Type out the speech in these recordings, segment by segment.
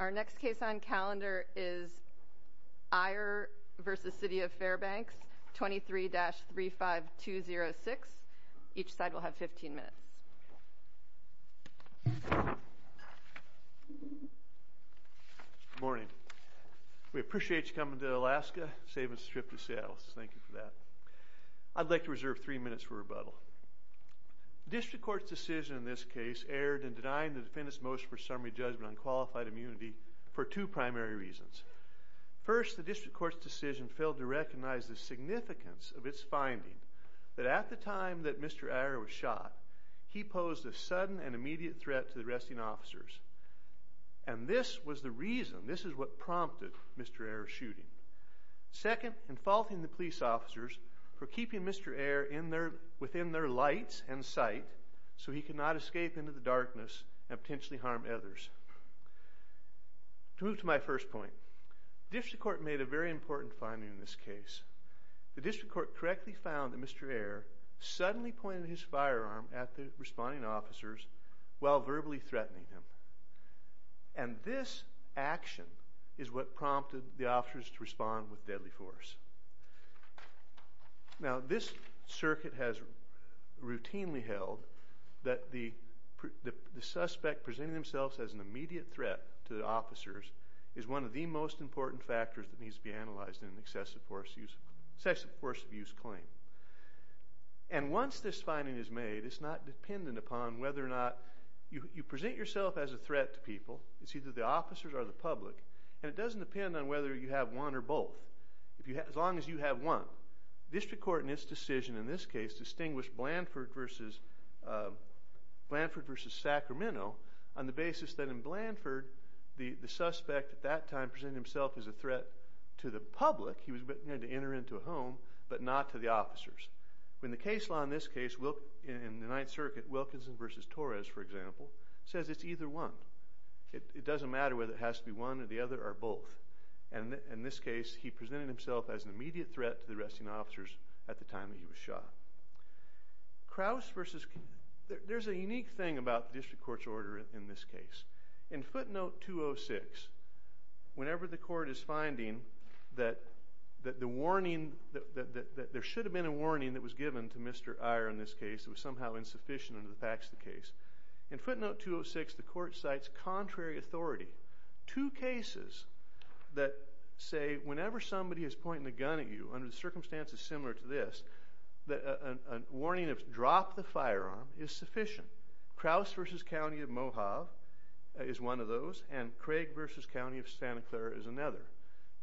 Our next case on calendar is Eyre v. City of Fairbanks, 23-35206. Each side will have 15 minutes. Good morning. We appreciate you coming to Alaska, saving us the trip to Seattle, so thank you for that. I'd like to reserve three minutes for rebuttal. The district court's decision in this case erred in denying the defendant's motion for summary judgment on qualified immunity for two primary reasons. First, the district court's decision failed to recognize the significance of its finding that at the time that Mr. Eyre was shot, he posed a sudden and immediate threat to the arresting officers, and this was the reason, this is what prompted Mr. Eyre's shooting. Second, in faulting the police officers for keeping Mr. Eyre within their lights and sight so he could not escape into the darkness and potentially harm others. To move to my first point, the district court made a very important finding in this case. The district court correctly found that Mr. Eyre suddenly pointed his firearm at the responding officers while verbally threatening them, and this action is what prompted the officers to respond with deadly force. Now, this circuit has routinely held that the suspect presenting themselves as an immediate threat to the officers is one of the most important factors that needs to be analyzed in an excessive force abuse claim. And once this finding is made, it's not dependent upon whether or not, you present yourself as a threat to people, it's either the officers or the public, and it doesn't depend on whether you have one or both, as long as you have one. The district court in its decision in this case distinguished Blanford v. Sacramento on the basis that in Blanford, the suspect at that time presented himself as a threat to the public, he was going to enter into a home, but not to the officers. In the case law in this case, in the Ninth Circuit, Wilkinson v. Torres, for example, says it's either one. It doesn't matter whether it has to be one or the other or both. And in this case, he presented himself as an immediate threat to the arresting officers at the time that he was shot. Crouse v. – there's a unique thing about the district court's order in this case. In footnote 206, whenever the court is finding that there should have been a warning that was given to Mr. Iyer in this case that was somehow insufficient under the facts of the case, in footnote 206, the court cites contrary authority. Two cases that say whenever somebody is pointing a gun at you under circumstances similar to this, that a warning of drop the firearm is sufficient. Crouse v. County of Mohave is one of those, and Craig v. County of Santa Clara is another.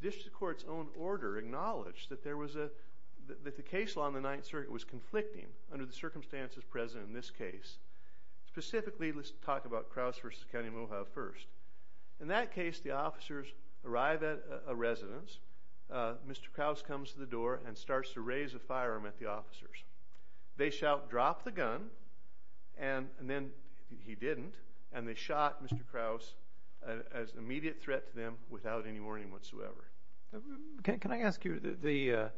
District court's own order acknowledged that the case law in the Ninth Circuit was conflicting under the circumstances present in this case. Specifically, let's talk about Crouse v. County of Mohave first. In that case, the officers arrive at a residence. Mr. Crouse comes to the door and starts to raise a firearm at the officers. They shout, drop the gun, and then he didn't, and they shot Mr. Crouse as immediate threat to them without any warning whatsoever. Can I ask you, the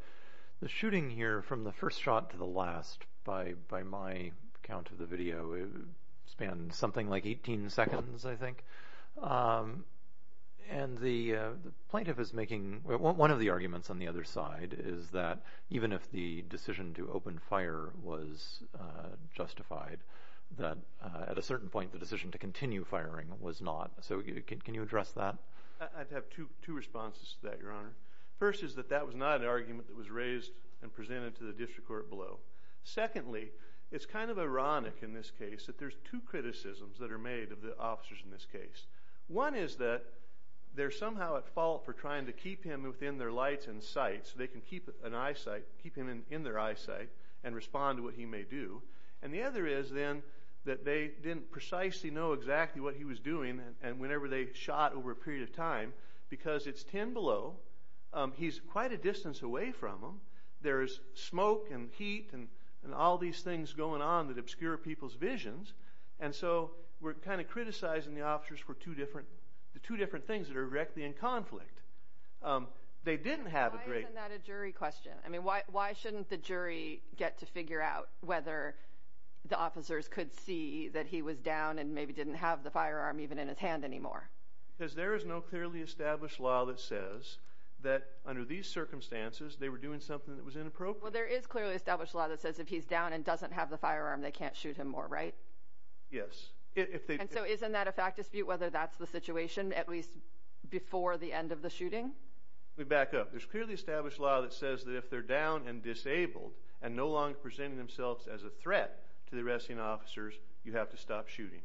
shooting here from the first shot to the last, by my count of the video, spanned something like 18 seconds, I think. And the plaintiff is making, one of the arguments on the other side is that even if the decision to open fire was justified, that at a certain point the decision to continue firing was not. So can you address that? I'd have two responses to that, Your Honor. First is that that was not an argument that was raised and presented to the district court below. Secondly, it's kind of ironic in this case that there's two criticisms that are made of the officers in this case. One is that they're somehow at fault for trying to keep him within their lights and sight, so they can keep him in their eyesight and respond to what he may do. And the other is, then, that they didn't precisely know exactly what he was doing, and whenever they shot over a period of time, because it's 10 below, he's quite a distance away from them, there's smoke and heat and all these things going on that obscure people's visions, and so we're kind of criticizing the officers for the two different things that are directly in conflict. Why isn't that a jury question? I mean, why shouldn't the jury get to figure out whether the officers could see that he was down and maybe didn't have the firearm even in his hand anymore? Because there is no clearly established law that says that under these circumstances they were doing something that was inappropriate. Well, there is clearly established law that says if he's down and doesn't have the firearm, they can't shoot him more, right? Yes. And so isn't that a fact dispute, whether that's the situation at least before the end of the shooting? Let me back up. There's clearly established law that says that if they're down and disabled and no longer presenting themselves as a threat to the arresting officers, you have to stop shooting.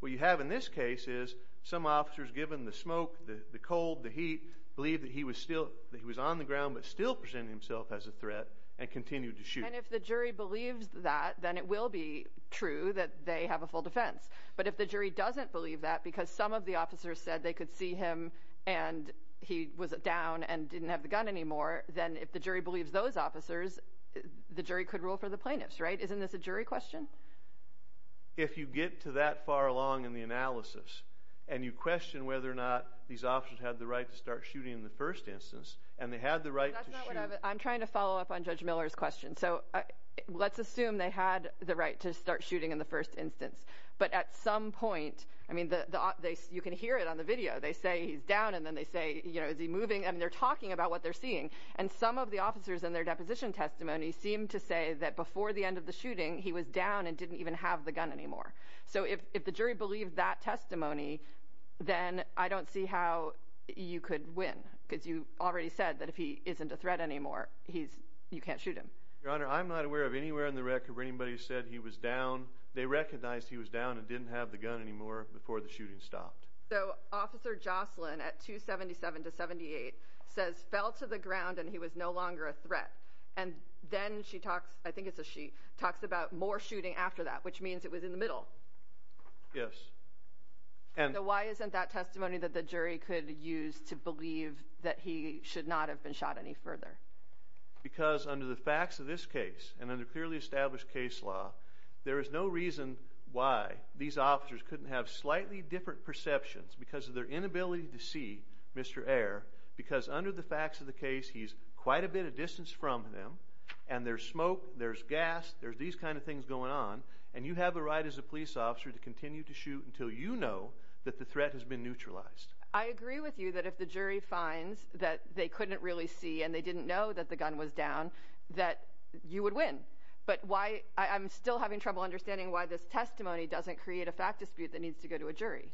What you have in this case is some officers, given the smoke, the cold, the heat, believe that he was on the ground, but still presented himself as a threat and continued to shoot. And if the jury believes that, then it will be true that they have a full defense. But if the jury doesn't believe that because some of the officers said they could see him and he was down and didn't have the gun anymore, then if the jury believes those officers, the jury could rule for the plaintiffs, right? Isn't this a jury question? If you get to that far along in the analysis and you question whether or not these officers had the right to start shooting in the first instance I'm trying to follow up on Judge Miller's question. So let's assume they had the right to start shooting in the first instance. But at some point, I mean, you can hear it on the video. They say he's down and then they say, you know, is he moving? And they're talking about what they're seeing. And some of the officers in their deposition testimony seem to say that before the end of the shooting, he was down and didn't even have the gun anymore. So if the jury believed that testimony, then I don't see how you could win because you already said that if he isn't a threat anymore, you can't shoot him. Your Honor, I'm not aware of anywhere in the record where anybody said he was down. They recognized he was down and didn't have the gun anymore before the shooting stopped. So Officer Jocelyn at 277 to 78 says fell to the ground and he was no longer a threat. And then she talks, I think it's a she, talks about more shooting after that, which means it was in the middle. Yes. So why isn't that testimony that the jury could use to believe that he should not have been shot any further? Because under the facts of this case and under clearly established case law, there is no reason why these officers couldn't have slightly different perceptions because of their inability to see Mr. Ayer, because under the facts of the case, he's quite a bit of distance from them, and there's smoke, there's gas, there's these kind of things going on, and you have a right as a police officer to continue to shoot until you know that the threat has been neutralized. I agree with you that if the jury finds that they couldn't really see and they didn't know that the gun was down, that you would win. But I'm still having trouble understanding why this testimony doesn't create a fact dispute that needs to go to a jury.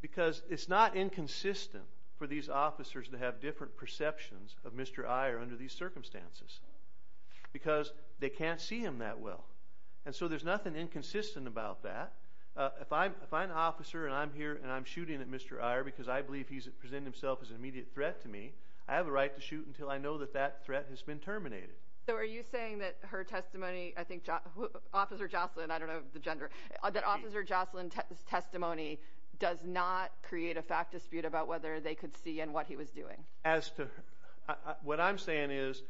Because it's not inconsistent for these officers to have different perceptions of Mr. Ayer under these circumstances because they can't see him that well. And so there's nothing inconsistent about that. If I'm an officer and I'm here and I'm shooting at Mr. Ayer because I believe he's presenting himself as an immediate threat to me, I have a right to shoot until I know that that threat has been terminated. So are you saying that her testimony, I think Officer Jocelyn, I don't know the gender, that Officer Jocelyn's testimony does not create a fact dispute about whether they could see and what he was doing? What I'm saying is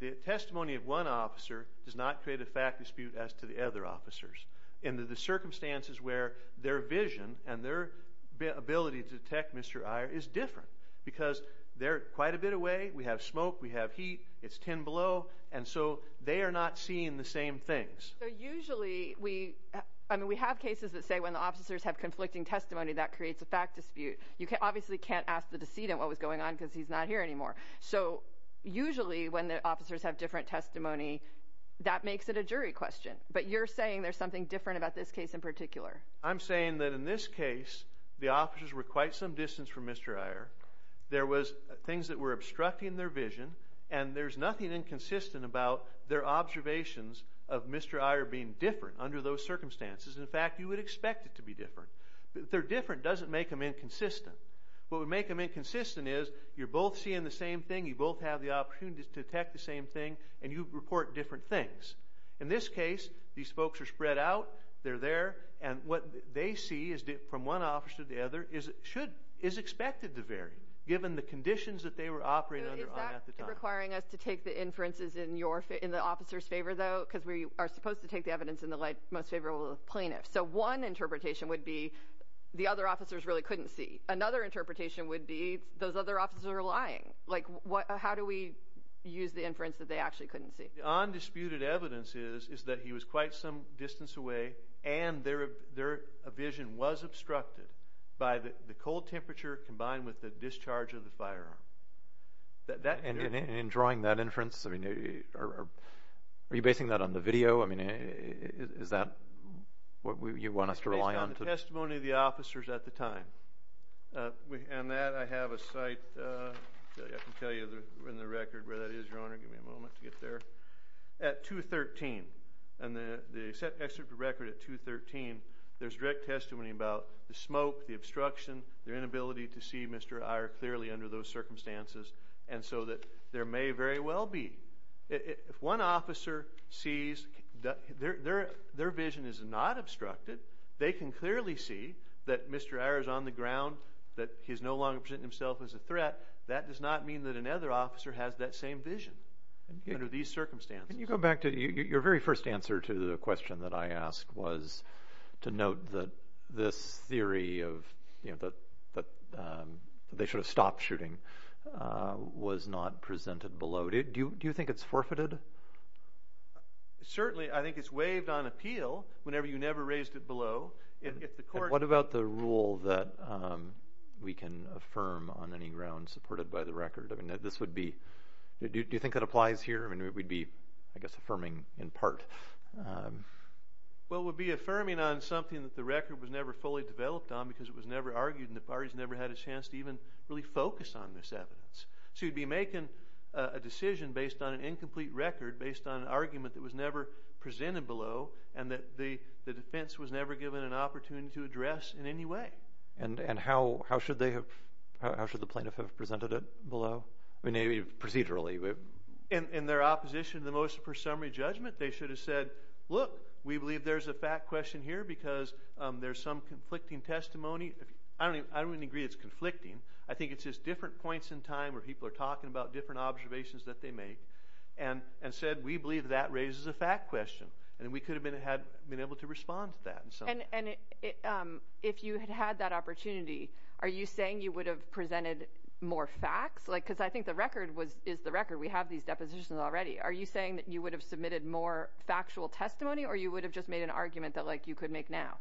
the testimony of one officer does not create a fact dispute as to the other officers in the circumstances where their vision and their ability to detect Mr. Ayer is different because they're quite a bit away, we have smoke, we have heat, it's 10 below, and so they are not seeing the same things. Usually we have cases that say when the officers have conflicting testimony that creates a fact dispute. You obviously can't ask the decedent what was going on because he's not here anymore. So usually when the officers have different testimony, that makes it a jury question. But you're saying there's something different about this case in particular. I'm saying that in this case the officers were quite some distance from Mr. Ayer, there was things that were obstructing their vision, and there's nothing inconsistent about their observations of Mr. Ayer being different under those circumstances. In fact, you would expect it to be different. If they're different, it doesn't make them inconsistent. What would make them inconsistent is you're both seeing the same thing, you both have the opportunity to detect the same thing, and you report different things. In this case, these folks are spread out, they're there, and what they see from one officer to the other is expected to vary given the conditions that they were operating under at the time. Is that requiring us to take the inferences in the officer's favor, though? Because we are supposed to take the evidence in the most favorable of plaintiffs. So one interpretation would be the other officers really couldn't see. Another interpretation would be those other officers are lying. How do we use the inference that they actually couldn't see? The undisputed evidence is that he was quite some distance away and their vision was obstructed by the cold temperature combined with the discharge of the firearm. In drawing that inference, are you basing that on the video? I mean, is that what you want us to rely on? It's based on the testimony of the officers at the time. And that I have a site that I can tell you in the record where that is, Your Honor. Give me a moment to get there. At 2-13, and the excerpt of the record at 2-13, there's direct testimony about the smoke, the obstruction, their inability to see Mr. Eyre clearly under those circumstances, and so that there may very well be. If one officer sees that their vision is not obstructed, they can clearly see that Mr. Eyre is on the ground, that he's no longer presenting himself as a threat. That does not mean that another officer has that same vision under these circumstances. Can you go back to your very first answer to the question that I asked was to note that this theory that they should have stopped shooting was not presented below. Do you think it's forfeited? Certainly. I think it's waived on appeal whenever you never raised it below. What about the rule that we can affirm on any grounds supported by the record? Do you think that applies here? I mean, we'd be, I guess, affirming in part. Well, we'd be affirming on something that the record was never fully developed on because it was never argued, and the parties never had a chance to even really focus on this evidence. So you'd be making a decision based on an incomplete record, based on an argument that was never presented below, and that the defense was never given an opportunity to address in any way. And how should the plaintiff have presented it below? I mean, maybe procedurally. In their opposition to the motion for summary judgment, they should have said, look, we believe there's a fact question here because there's some conflicting testimony. I don't even agree it's conflicting. I think it's just different points in time where people are talking about different observations that they make and said we believe that raises a fact question, and we could have been able to respond to that in some way. And if you had had that opportunity, are you saying you would have presented more facts? Because I think the record is the record. We have these depositions already. Are you saying that you would have submitted more factual testimony or you would have just made an argument that, like, you could make now?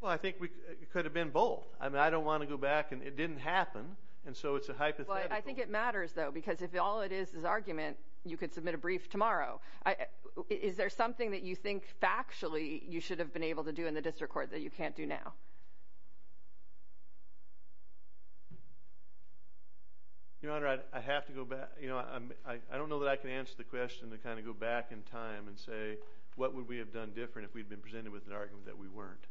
Well, I think it could have been both. I mean, I don't want to go back and it didn't happen, and so it's a hypothetical. Well, I think it matters, though, because if all it is is argument, you could submit a brief tomorrow. Is there something that you think factually you should have been able to do in the district court that you can't do now? Your Honor, I have to go back. You know, I don't know that I can answer the question to kind of go back in time and say what would we have done different if we had been presented with an argument that we weren't.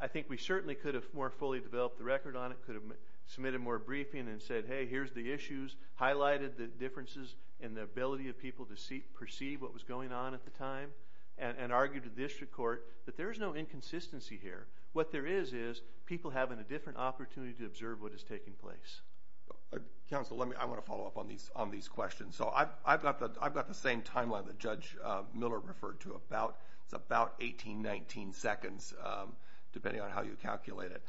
I think we certainly could have more fully developed the record on it, could have submitted more briefing and said, hey, here's the issues, highlighted the differences in the ability of people to perceive what was going on at the time, and argued to district court that there is no inconsistency here. What there is is people having a different opportunity to observe what is taking place. Counsel, I want to follow up on these questions. So I've got the same timeline that Judge Miller referred to. It's about 18, 19 seconds, depending on how you calculate it.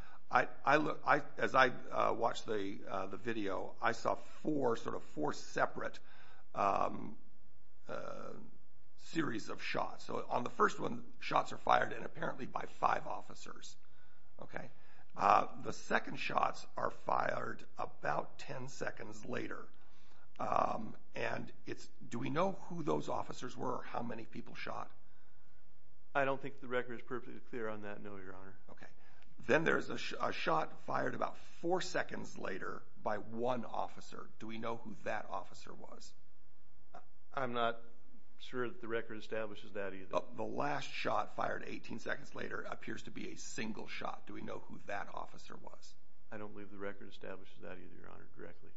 As I watched the video, I saw four sort of four separate series of shots. So on the first one, shots are fired in apparently by five officers. The second shots are fired about 10 seconds later. And do we know who those officers were or how many people shot? I don't think the record is perfectly clear on that, no, Your Honor. Then there's a shot fired about four seconds later by one officer. Do we know who that officer was? I'm not sure that the record establishes that either. The last shot fired 18 seconds later appears to be a single shot. Do we know who that officer was? I don't believe the record establishes that either, Your Honor, directly.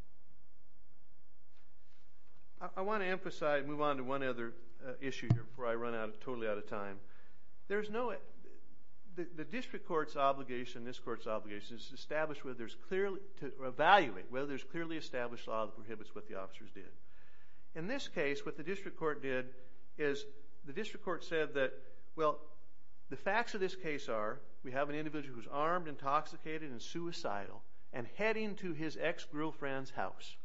I want to emphasize and move on to one other issue here before I run totally out of time. There's no—the district court's obligation, this court's obligation, is to evaluate whether there's clearly established law that prohibits what the officers did. In this case, what the district court did is the district court said that, well, the facts of this case are we have an individual who's armed, intoxicated, and suicidal and heading to his ex-girlfriend's house.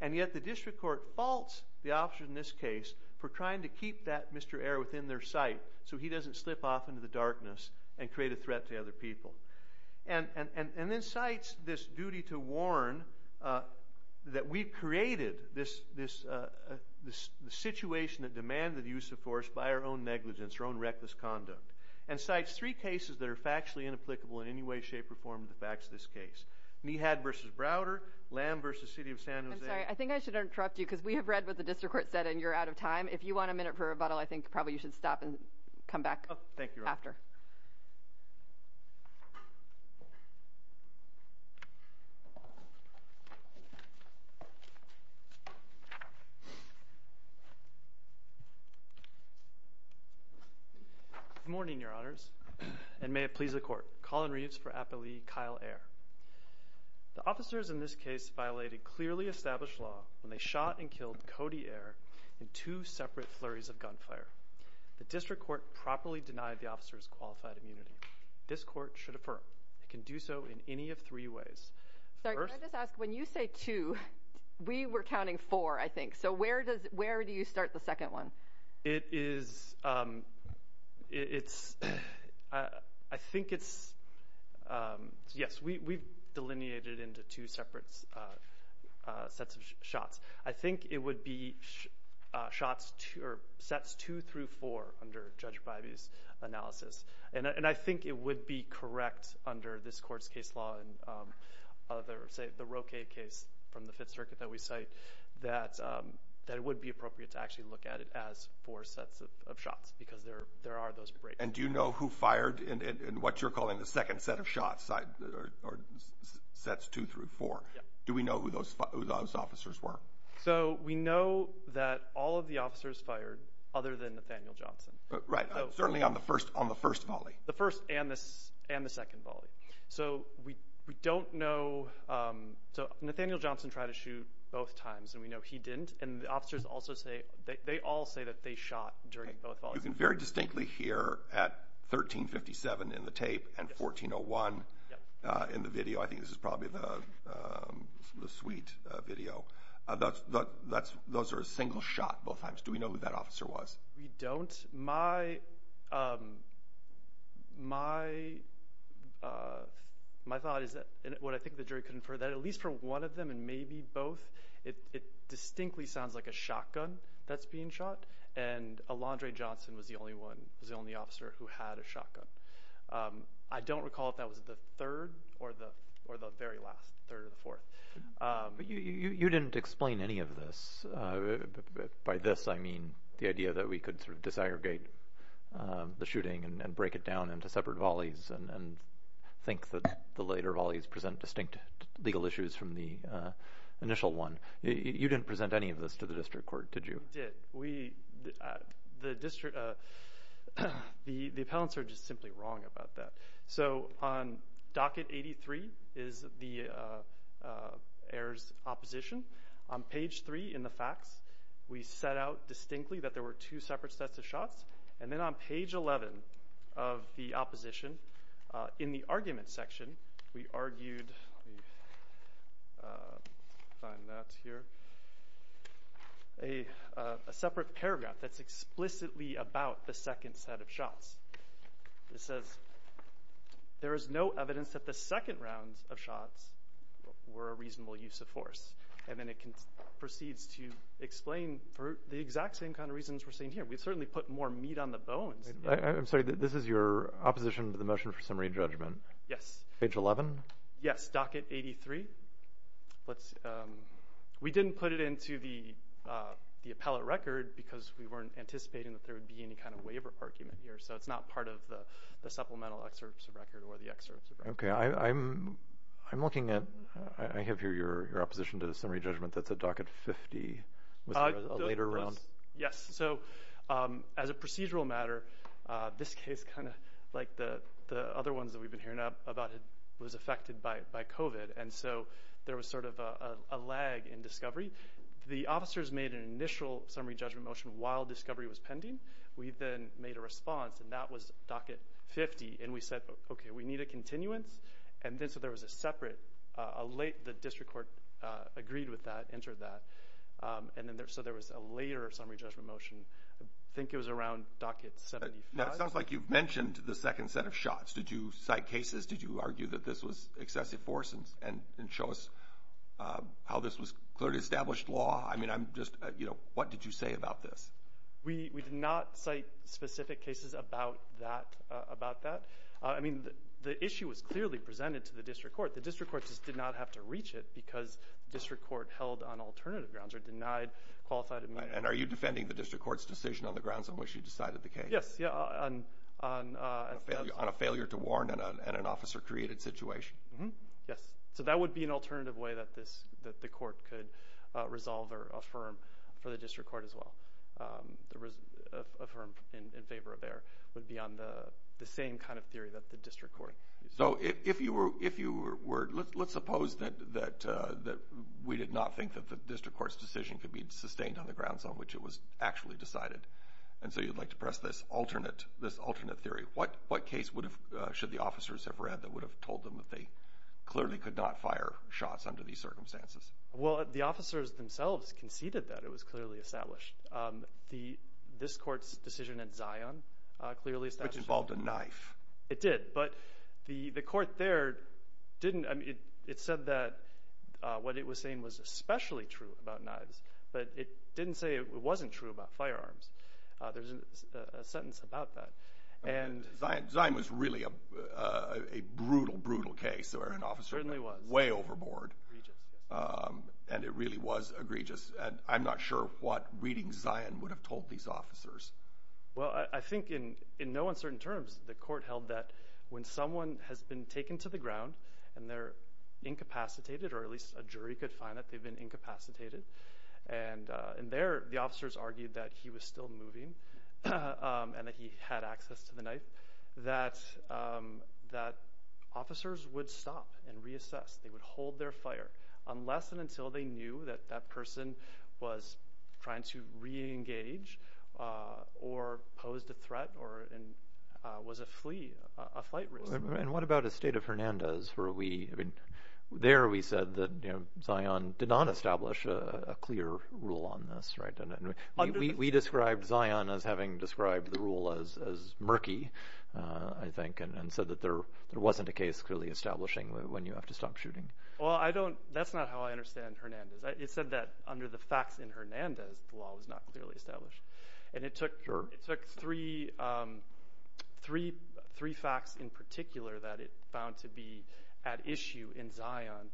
And yet the district court faults the officers in this case for trying to keep that Mr. Ayer within their sight so he doesn't slip off into the darkness and create a threat to other people. And then cites this duty to warn that we've created this situation that demanded the use of force by our own negligence, our own reckless conduct, and cites three cases that are factually inapplicable in any way, shape, or form to the facts of this case, Nehad v. Browder, Lamb v. City of San Jose— I'm sorry. I think I should interrupt you because we have read what the district court said and you're out of time. If you want a minute for rebuttal, I think probably you should stop and come back after. Thank you. Good morning, Your Honors, and may it please the Court. Colin Reeves for Applee, Kyle Ayer. The officers in this case violated clearly established law when they shot and killed Cody Ayer in two separate flurries of gunfire. The district court properly denied the officers qualified immunity. This court should affirm it can do so in any of three ways. First— Sorry, can I just ask, when you say two, we were counting four, I think, so where do you start the second one? It is—it's—I think it's—yes, we've delineated it into two separate sets of shots. I think it would be shots—sets two through four under Judge Bybee's analysis, and I think it would be correct under this court's case law, the Roque case from the Fifth Circuit that we cite, that it would be appropriate to actually look at it as four sets of shots because there are those breaks. And do you know who fired in what you're calling the second set of shots, or sets two through four? Do we know who those officers were? So we know that all of the officers fired other than Nathaniel Johnson. Right, certainly on the first volley. The first and the second volley. So we don't know—so Nathaniel Johnson tried to shoot both times, and we know he didn't, and the officers also say— they all say that they shot during both volleys. You can very distinctly hear at 1357 in the tape and 1401 in the video. I think this is probably the suite video. Those are a single shot both times. Do we know who that officer was? We don't. My thought is that—and what I think the jury could infer— that at least for one of them and maybe both, it distinctly sounds like a shotgun that's being shot, and Alondrae Johnson was the only officer who had a shotgun. I don't recall if that was the third or the very last, third or the fourth. You didn't explain any of this. By this I mean the idea that we could sort of disaggregate the shooting and break it down into separate volleys and think that the later volleys present distinct legal issues from the initial one. You didn't present any of this to the district court, did you? We did. The appellants are just simply wrong about that. On docket 83 is the heirs' opposition. On page 3 in the facts, we set out distinctly that there were two separate sets of shots, and then on page 11 of the opposition, in the argument section, we argued— a separate paragraph that's explicitly about the second set of shots. It says, there is no evidence that the second round of shots were a reasonable use of force, and then it proceeds to explain for the exact same kind of reasons we're seeing here. We certainly put more meat on the bones. I'm sorry, this is your opposition to the motion for summary judgment? Yes. Page 11? Yes, docket 83. We didn't put it into the appellate record because we weren't anticipating that there would be any kind of waiver argument here, so it's not part of the supplemental excerpts of record or the excerpts of record. Okay, I'm looking at—I have here your opposition to the summary judgment. That's at docket 50 with a later round. Yes, so as a procedural matter, this case, like the other ones that we've been hearing about, was affected by COVID, and so there was sort of a lag in discovery. The officers made an initial summary judgment motion while discovery was pending. We then made a response, and that was docket 50. And we said, okay, we need a continuance. And so there was a separate—the district court agreed with that, entered that. So there was a later summary judgment motion. I think it was around docket 75. It sounds like you've mentioned the second set of shots. Did you cite cases? Did you argue that this was excessive force and show us how this was clearly established law? I mean, I'm just—you know, what did you say about this? We did not cite specific cases about that. I mean, the issue was clearly presented to the district court. The district court just did not have to reach it because district court held on alternative grounds or denied qualified— And are you defending the district court's decision on the grounds on which you decided the case? Yes, yeah, on— Yes. So that would be an alternative way that the court could resolve or affirm for the district court as well. Affirm in favor of there would be on the same kind of theory that the district court— So if you were—let's suppose that we did not think that the district court's decision could be sustained on the grounds on which it was actually decided. And so you'd like to press this alternate theory. What case should the officers have read that would have told them that they clearly could not fire shots under these circumstances? Well, the officers themselves conceded that it was clearly established. This court's decision at Zion clearly established— Which involved a knife. It did, but the court there didn't— I mean, it said that what it was saying was especially true about knives, but it didn't say it wasn't true about firearms. There's a sentence about that. Zion was really a brutal, brutal case where an officer— It certainly was. Way overboard. Egregious, yes. And it really was egregious. And I'm not sure what reading Zion would have told these officers. Well, I think in no uncertain terms, the court held that when someone has been taken to the ground and they're incapacitated, or at least a jury could find that they've been incapacitated, and there the officers argued that he was still moving and that he had access to the knife, that officers would stop and reassess. They would hold their fire unless and until they knew that that person was trying to reengage or posed a threat or was a flee, a flight risk. And what about Esteta Fernandez? There we said that Zion did not establish a clear rule on this. We described Zion as having described the rule as murky, I think, and said that there wasn't a case clearly establishing when you have to stop shooting. Well, that's not how I understand Hernandez. It said that under the facts in Hernandez, the law was not clearly established. And it took three facts in particular that it found to be at issue in Zion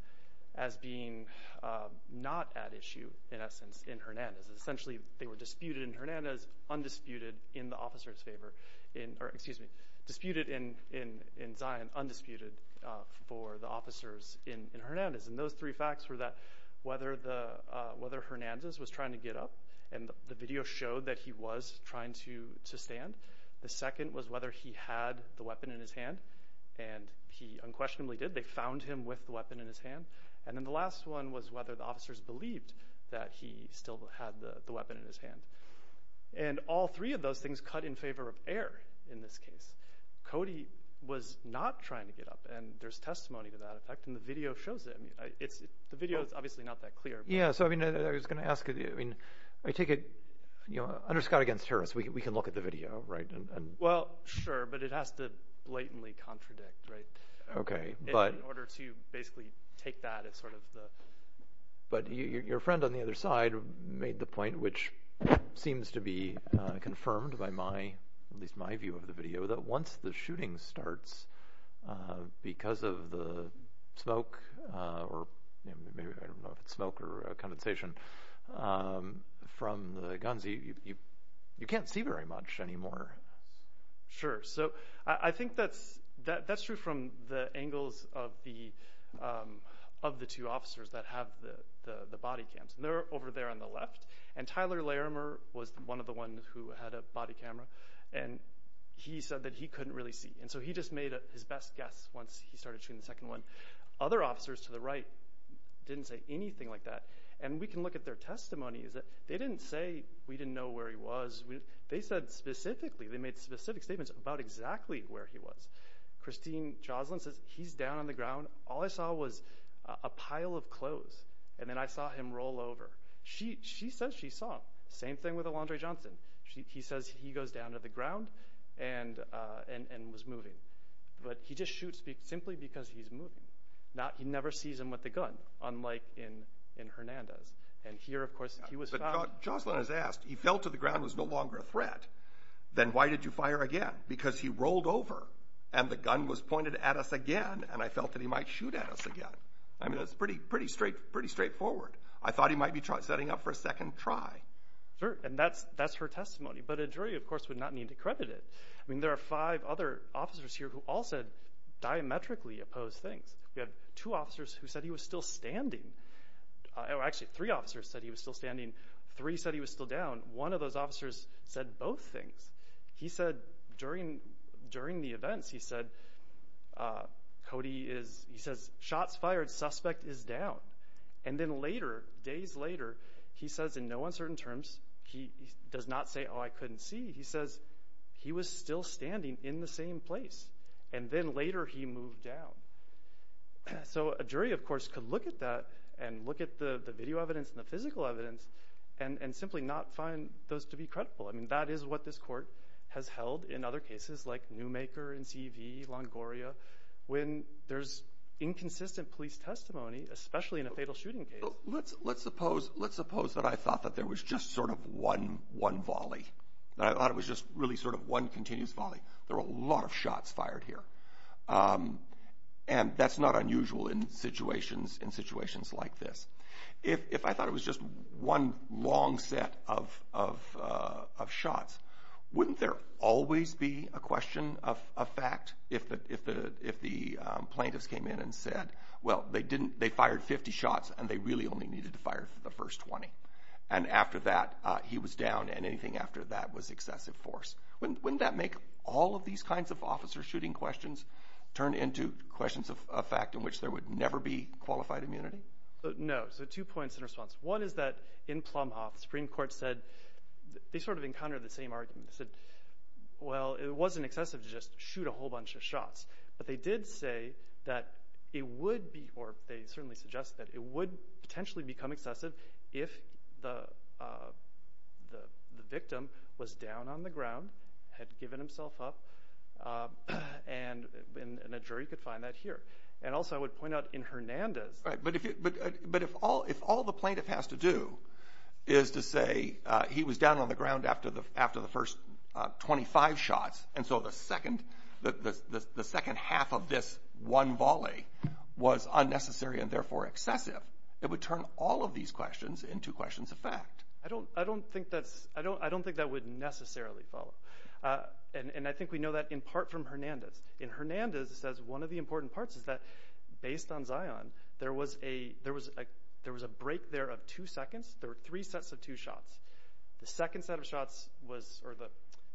as being not at issue, in essence, in Hernandez. Essentially, they were disputed in Hernandez, undisputed in the officer's favor. Excuse me, disputed in Zion, undisputed for the officers in Hernandez. And those three facts were that whether Hernandez was trying to get up, and the video showed that he was trying to stand. The second was whether he had the weapon in his hand, and he unquestionably did. They found him with the weapon in his hand. And then the last one was whether the officers believed that he still had the weapon in his hand. And all three of those things cut in favor of error in this case. Cody was not trying to get up, and there's testimony to that effect, and the video shows it. The video is obviously not that clear. Yeah, so I was going to ask. I take it, under Scott against Harris, we can look at the video, right? Well, sure, but it has to blatantly contradict, right? Okay, but— In order to basically take that as sort of the— But your friend on the other side made the point, which seems to be confirmed by my, at least my view of the video, that once the shooting starts, because of the smoke, or maybe I don't know if it's smoke or condensation from the guns, you can't see very much anymore. Sure, so I think that's true from the angles of the two officers that have the body cams. They're over there on the left, and Tyler Larimer was one of the ones who had a body camera, and he said that he couldn't really see. And so he just made his best guess once he started shooting the second one. Other officers to the right didn't say anything like that. And we can look at their testimonies. They didn't say, we didn't know where he was. They said specifically, they made specific statements about exactly where he was. Christine Joslin says, he's down on the ground. All I saw was a pile of clothes, and then I saw him roll over. She says she saw. Same thing with Alondra Johnson. He says he goes down to the ground and was moving. But he just shoots simply because he's moving. He never sees him with the gun, unlike in Hernandez. And here, of course, he was found. But Joslin has asked, he fell to the ground and was no longer a threat. Then why did you fire again? Because he rolled over, and the gun was pointed at us again, and I felt that he might shoot at us again. I mean, that's pretty straightforward. I thought he might be setting up for a second try. And that's her testimony. But a jury, of course, would not need to credit it. I mean, there are five other officers here who all said diametrically opposed things. We have two officers who said he was still standing. Actually, three officers said he was still standing. Three said he was still down. One of those officers said both things. He said during the events, he said, shots fired, suspect is down. And then later, days later, he says in no uncertain terms, he does not say, oh, I couldn't see. He says he was still standing in the same place. And then later, he moved down. So a jury, of course, could look at that and look at the video evidence and the physical evidence and simply not find those to be credible. I mean, that is what this court has held in other cases like Newmaker, NCV, Longoria, when there's inconsistent police testimony, especially in a fatal shooting case. Let's suppose that I thought that there was just sort of one volley, that I thought it was just really sort of one continuous volley. There were a lot of shots fired here. And that's not unusual in situations like this. If I thought it was just one long set of shots, wouldn't there always be a question of fact if the plaintiffs came in and said, well, they fired 50 shots and they really only needed to fire the first 20? And after that, he was down, and anything after that was excessive force. Wouldn't that make all of these kinds of officer shooting questions turn into questions of fact in which there would never be qualified immunity? No. So two points in response. One is that in Plumhoff, the Supreme Court said they sort of encountered the same argument. They said, well, it wasn't excessive to just shoot a whole bunch of shots. But they did say that it would be or they certainly suggested that it would potentially become excessive if the victim was down on the ground, had given himself up, and a jury could find that here. And also I would point out in Hernandez. But if all the plaintiff has to do is to say he was down on the ground after the first 25 shots, and so the second half of this one volley was unnecessary and therefore excessive, it would turn all of these questions into questions of fact. I don't think that would necessarily follow. And I think we know that in part from Hernandez. In Hernandez, it says one of the important parts is that based on Zion, there was a break there of two seconds. There were three sets of two shots.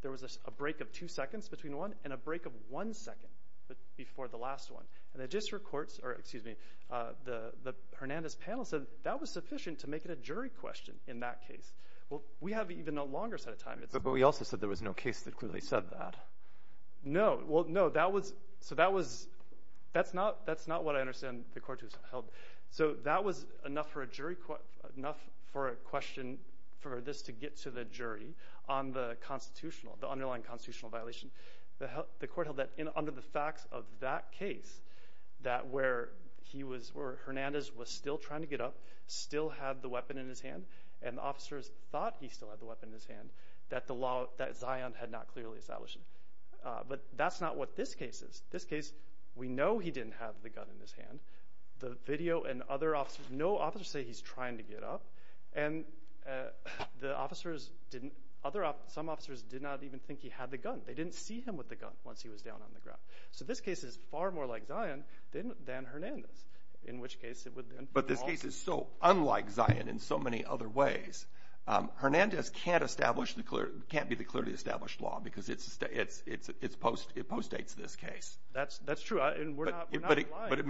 There was a break of two seconds between one and a break of one second before the last one. And the Hernandez panel said that was sufficient to make it a jury question in that case. Well, we have even a longer set of time. But we also said there was no case that clearly said that. No. Well, no. So that's not what I understand the court has held. So that was enough for a question for this to get to the jury on the constitutional, the underlying constitutional violation. The court held that under the facts of that case, that where Hernandez was still trying to get up, still had the weapon in his hand, and the officers thought he still had the weapon in his hand, that the law, that Zion had not clearly established. But that's not what this case is. This case, we know he didn't have the gun in his hand. The video and other officers, no officers say he's trying to get up. And the officers didn't, other officers, some officers did not even think he had the gun. They didn't see him with the gun once he was down on the ground. So this case is far more like Zion than Hernandez, in which case it would then. But this case is so unlike Zion in so many other ways. Hernandez can't be the clearly established law because it postdates this case. That's true, and we're not lying. But it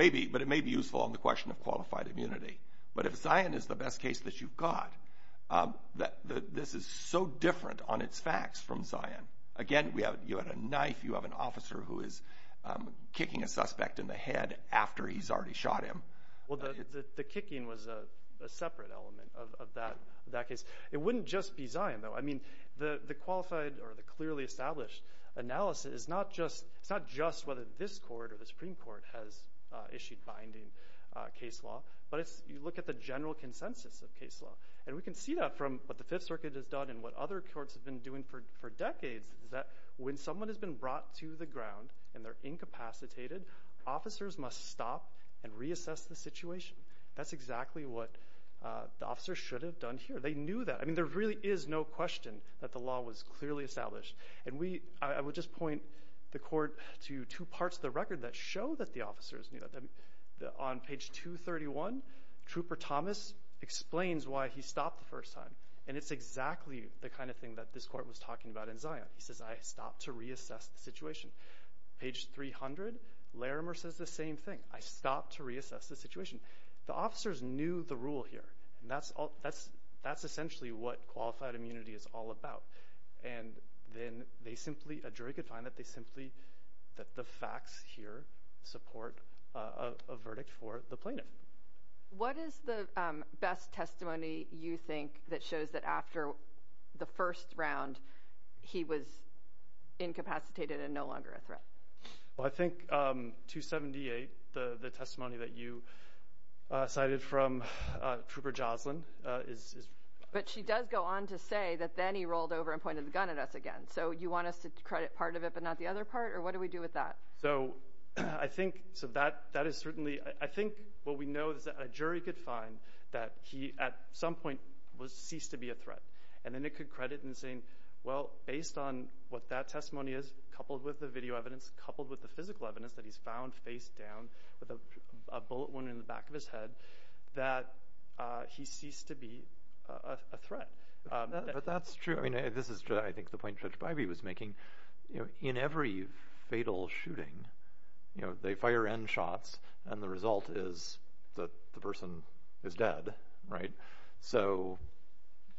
may be useful on the question of qualified immunity. But if Zion is the best case that you've got, this is so different on its facts from Zion. Again, you have a knife, you have an officer who is kicking a suspect in the head after he's already shot him. Well, the kicking was a separate element of that case. It wouldn't just be Zion, though. I mean, the qualified or the clearly established analysis is not just whether this court or the Supreme Court has issued binding case law, but you look at the general consensus of case law. And we can see that from what the Fifth Circuit has done and what other courts have been doing for decades, is that when someone has been brought to the ground and they're incapacitated, officers must stop and reassess the situation. That's exactly what the officers should have done here. They knew that. I mean, there really is no question that the law was clearly established. And I would just point the court to two parts of the record that show that the officers knew that. On page 231, Trooper Thomas explains why he stopped the first time, and it's exactly the kind of thing that this court was talking about in Zion. He says, I stopped to reassess the situation. Page 300, Larimer says the same thing. I stopped to reassess the situation. The officers knew the rule here, and that's essentially what qualified immunity is all about. And then a jury could find that the facts here support a verdict for the plaintiff. What is the best testimony you think that shows that after the first round, he was incapacitated and no longer a threat? Well, I think 278, the testimony that you cited from Trooper Joslyn. But she does go on to say that then he rolled over and pointed the gun at us again. So you want us to credit part of it but not the other part, or what do we do with that? So I think what we know is that a jury could find that he at some point ceased to be a threat, and then it could credit in saying, well, based on what that testimony is, coupled with the video evidence, coupled with the physical evidence that he's found face down with a bullet wound in the back of his head, that he ceased to be a threat. But that's true. I mean, this is, I think, the point Judge Bivey was making. In every fatal shooting, they fire N shots, and the result is that the person is dead, right? So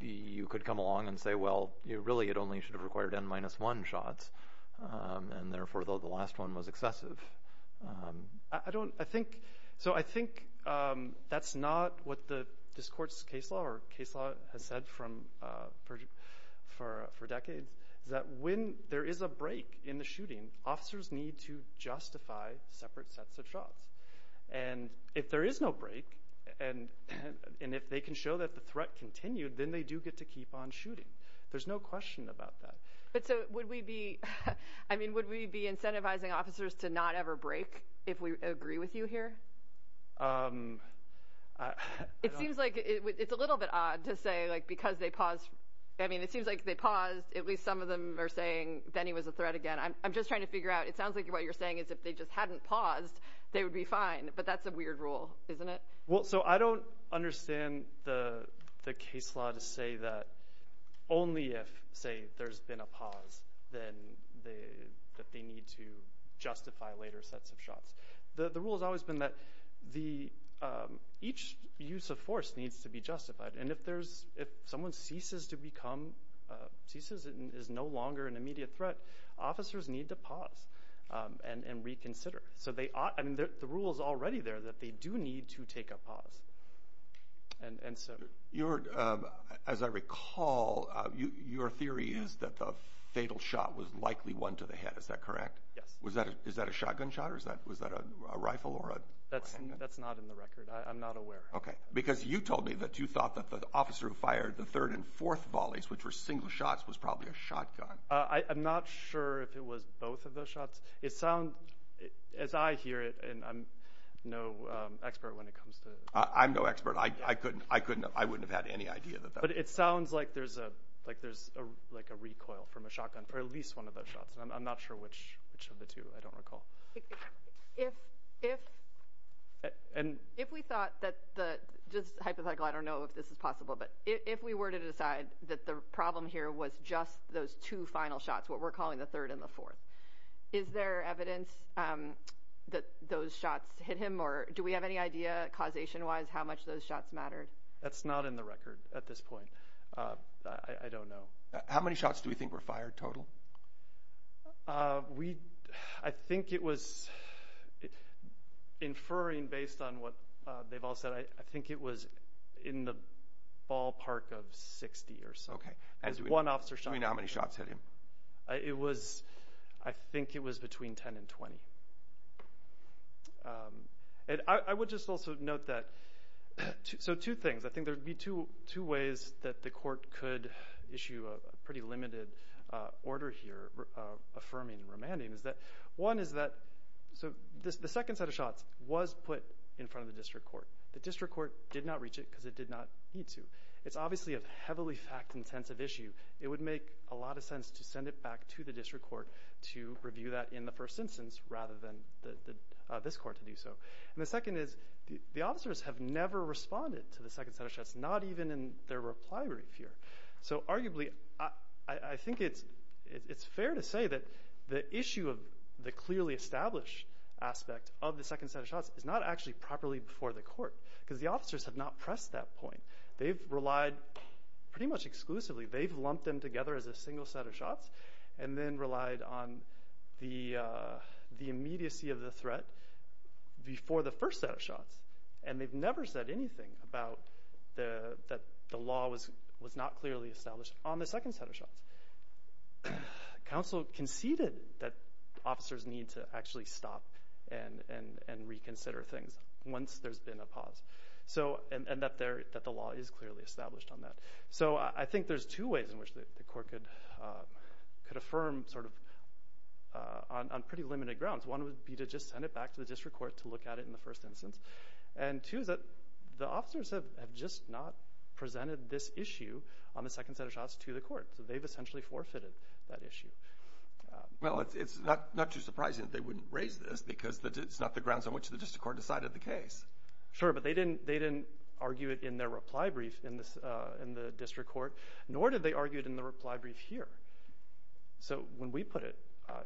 you could come along and say, well, really it only should have required N-1 shots, and therefore the last one was excessive. So I think that's not what this court's case law or case law has said for decades, is that when there is a break in the shooting, officers need to justify separate sets of shots. And if there is no break, and if they can show that the threat continued, then they do get to keep on shooting. There's no question about that. But so would we be incentivizing officers to not ever break if we agree with you here? It seems like it's a little bit odd to say because they paused. I mean, it seems like they paused. At least some of them are saying Benny was a threat again. I'm just trying to figure out. It sounds like what you're saying is if they just hadn't paused, they would be fine. But that's a weird rule, isn't it? Well, so I don't understand the case law to say that only if, say, there's been a pause, then that they need to justify later sets of shots. The rule has always been that each use of force needs to be justified. And if someone ceases to become – ceases and is no longer an immediate threat, officers need to pause and reconsider. So they – I mean, the rule is already there that they do need to take a pause. And so – As I recall, your theory is that the fatal shot was likely one to the head. Is that correct? Yes. Is that a shotgun shot or is that – was that a rifle or a – That's not in the record. I'm not aware. Okay. Because you told me that you thought that the officer who fired the third and fourth volleys, which were single shots, was probably a shotgun. I'm not sure if it was both of those shots. It sounds – as I hear it, and I'm no expert when it comes to – I'm no expert. I couldn't – I wouldn't have had any idea that that was a shotgun. But it sounds like there's a – like there's a – like a recoil from a shotgun for at least one of those shots. And I'm not sure which of the two. I don't recall. If we thought that the – just hypothetical. I don't know if this is possible. But if we were to decide that the problem here was just those two final shots, what we're calling the third and the fourth, is there evidence that those shots hit him? Or do we have any idea, causation-wise, how much those shots mattered? That's not in the record at this point. I don't know. How many shots do we think were fired total? We – I think it was – inferring based on what they've all said, I think it was in the ballpark of 60 or so. Okay. As one officer shot him. How many shots hit him? It was – I think it was between 10 and 20. And I would just also note that – so two things. I think there would be two ways that the court could issue a pretty limited order here affirming remanding is that one is that – so the second set of shots was put in front of the district court. The district court did not reach it because it did not need to. It's obviously a heavily fact-intensive issue. It would make a lot of sense to send it back to the district court to review that in the first instance rather than this court to do so. And the second is the officers have never responded to the second set of shots, not even in their reply brief here. So arguably, I think it's fair to say that the issue of the clearly established aspect of the second set of shots is not actually properly before the court because the officers have not pressed that point. They've relied pretty much exclusively – they've lumped them together as a single set of shots and then relied on the immediacy of the threat before the first set of shots. And they've never said anything about – that the law was not clearly established on the second set of shots. Counsel conceded that officers need to actually stop and reconsider things once there's been a pause. And that the law is clearly established on that. So I think there's two ways in which the court could affirm sort of on pretty limited grounds. One would be to just send it back to the district court to look at it in the first instance. And two is that the officers have just not presented this issue on the second set of shots to the court. So they've essentially forfeited that issue. Well, it's not too surprising that they wouldn't raise this because it's not the grounds on which the district court decided the case. Sure, but they didn't argue it in their reply brief in the district court, nor did they argue it in the reply brief here. So when we put it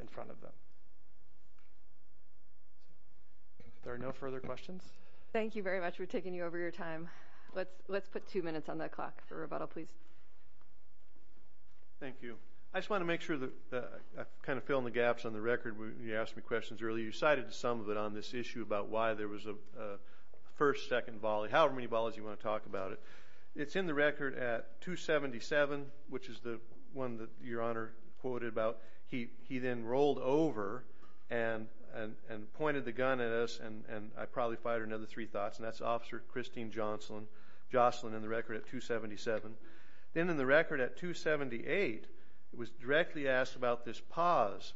in front of them. If there are no further questions. Thank you very much. We're taking you over your time. Let's put two minutes on the clock for rebuttal, please. Thank you. I just want to make sure that I'm kind of filling the gaps on the record. You asked me questions earlier. You cited some of it on this issue about why there was a first, second volley, however many volleys you want to talk about it. It's in the record at .277, which is the one that Your Honor quoted about. He then rolled over and pointed the gun at us, and I probably fired another three thoughts, and that's Officer Christine Jocelyn in the record at .277. Then in the record at .278, it was directly asked about this pause.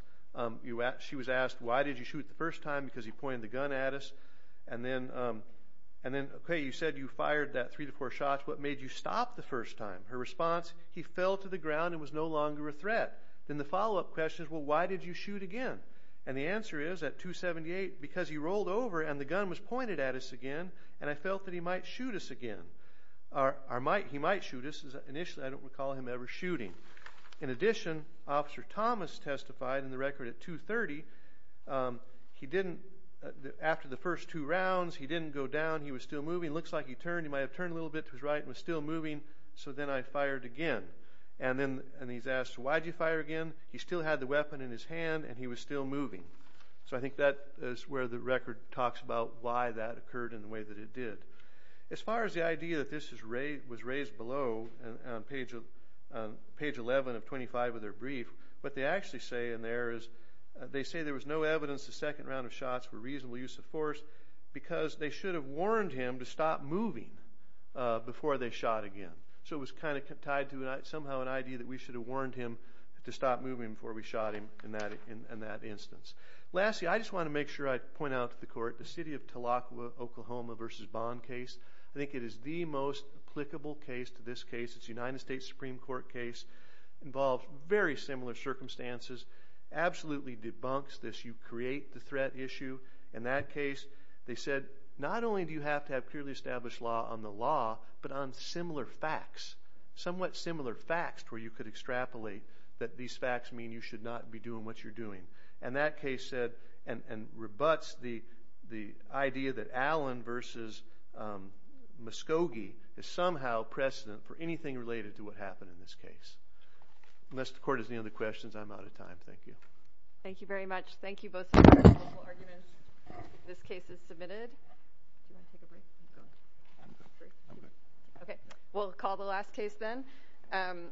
She was asked, why did you shoot the first time? Because he pointed the gun at us. And then, okay, you said you fired that three to four shots. What made you stop the first time? Her response, he fell to the ground and was no longer a threat. Then the follow-up question is, well, why did you shoot again? And the answer is at .278, because he rolled over and the gun was pointed at us again, and I felt that he might shoot us again. He might shoot us initially. I don't recall him ever shooting. In addition, Officer Thomas testified in the record at .230, he didn't, after the first two rounds, he didn't go down. He was still moving. It looks like he turned. He might have turned a little bit to his right and was still moving. So then I fired again. And then he's asked, why did you fire again? He still had the weapon in his hand, and he was still moving. So I think that is where the record talks about why that occurred in the way that it did. As far as the idea that this was raised below on page 11 of 25 of their brief, what they actually say in there is they say there was no evidence the second round of shots were a reasonable use of force because they should have warned him to stop moving before they shot again. So it was kind of tied to somehow an idea that we should have warned him to stop moving before we shot him in that instance. Lastly, I just want to make sure I point out to the court, the City of Tulloch, Oklahoma v. Bond case. I think it is the most applicable case to this case. It's a United States Supreme Court case. It involves very similar circumstances. It absolutely debunks this, you create the threat issue. In that case, they said not only do you have to have clearly established law on the law, but on similar facts, somewhat similar facts where you could extrapolate that these facts mean you should not be doing what you're doing. And that case said and rebuts the idea that Allen v. Muscogee is somehow precedent for anything related to what happened in this case. Unless the court has any other questions, I'm out of time. Thank you. Thank you very much. Thank you both for your wonderful arguments. This case is submitted. Do you want to take a break? I'm good. I'm good. Okay. We'll call the last case then.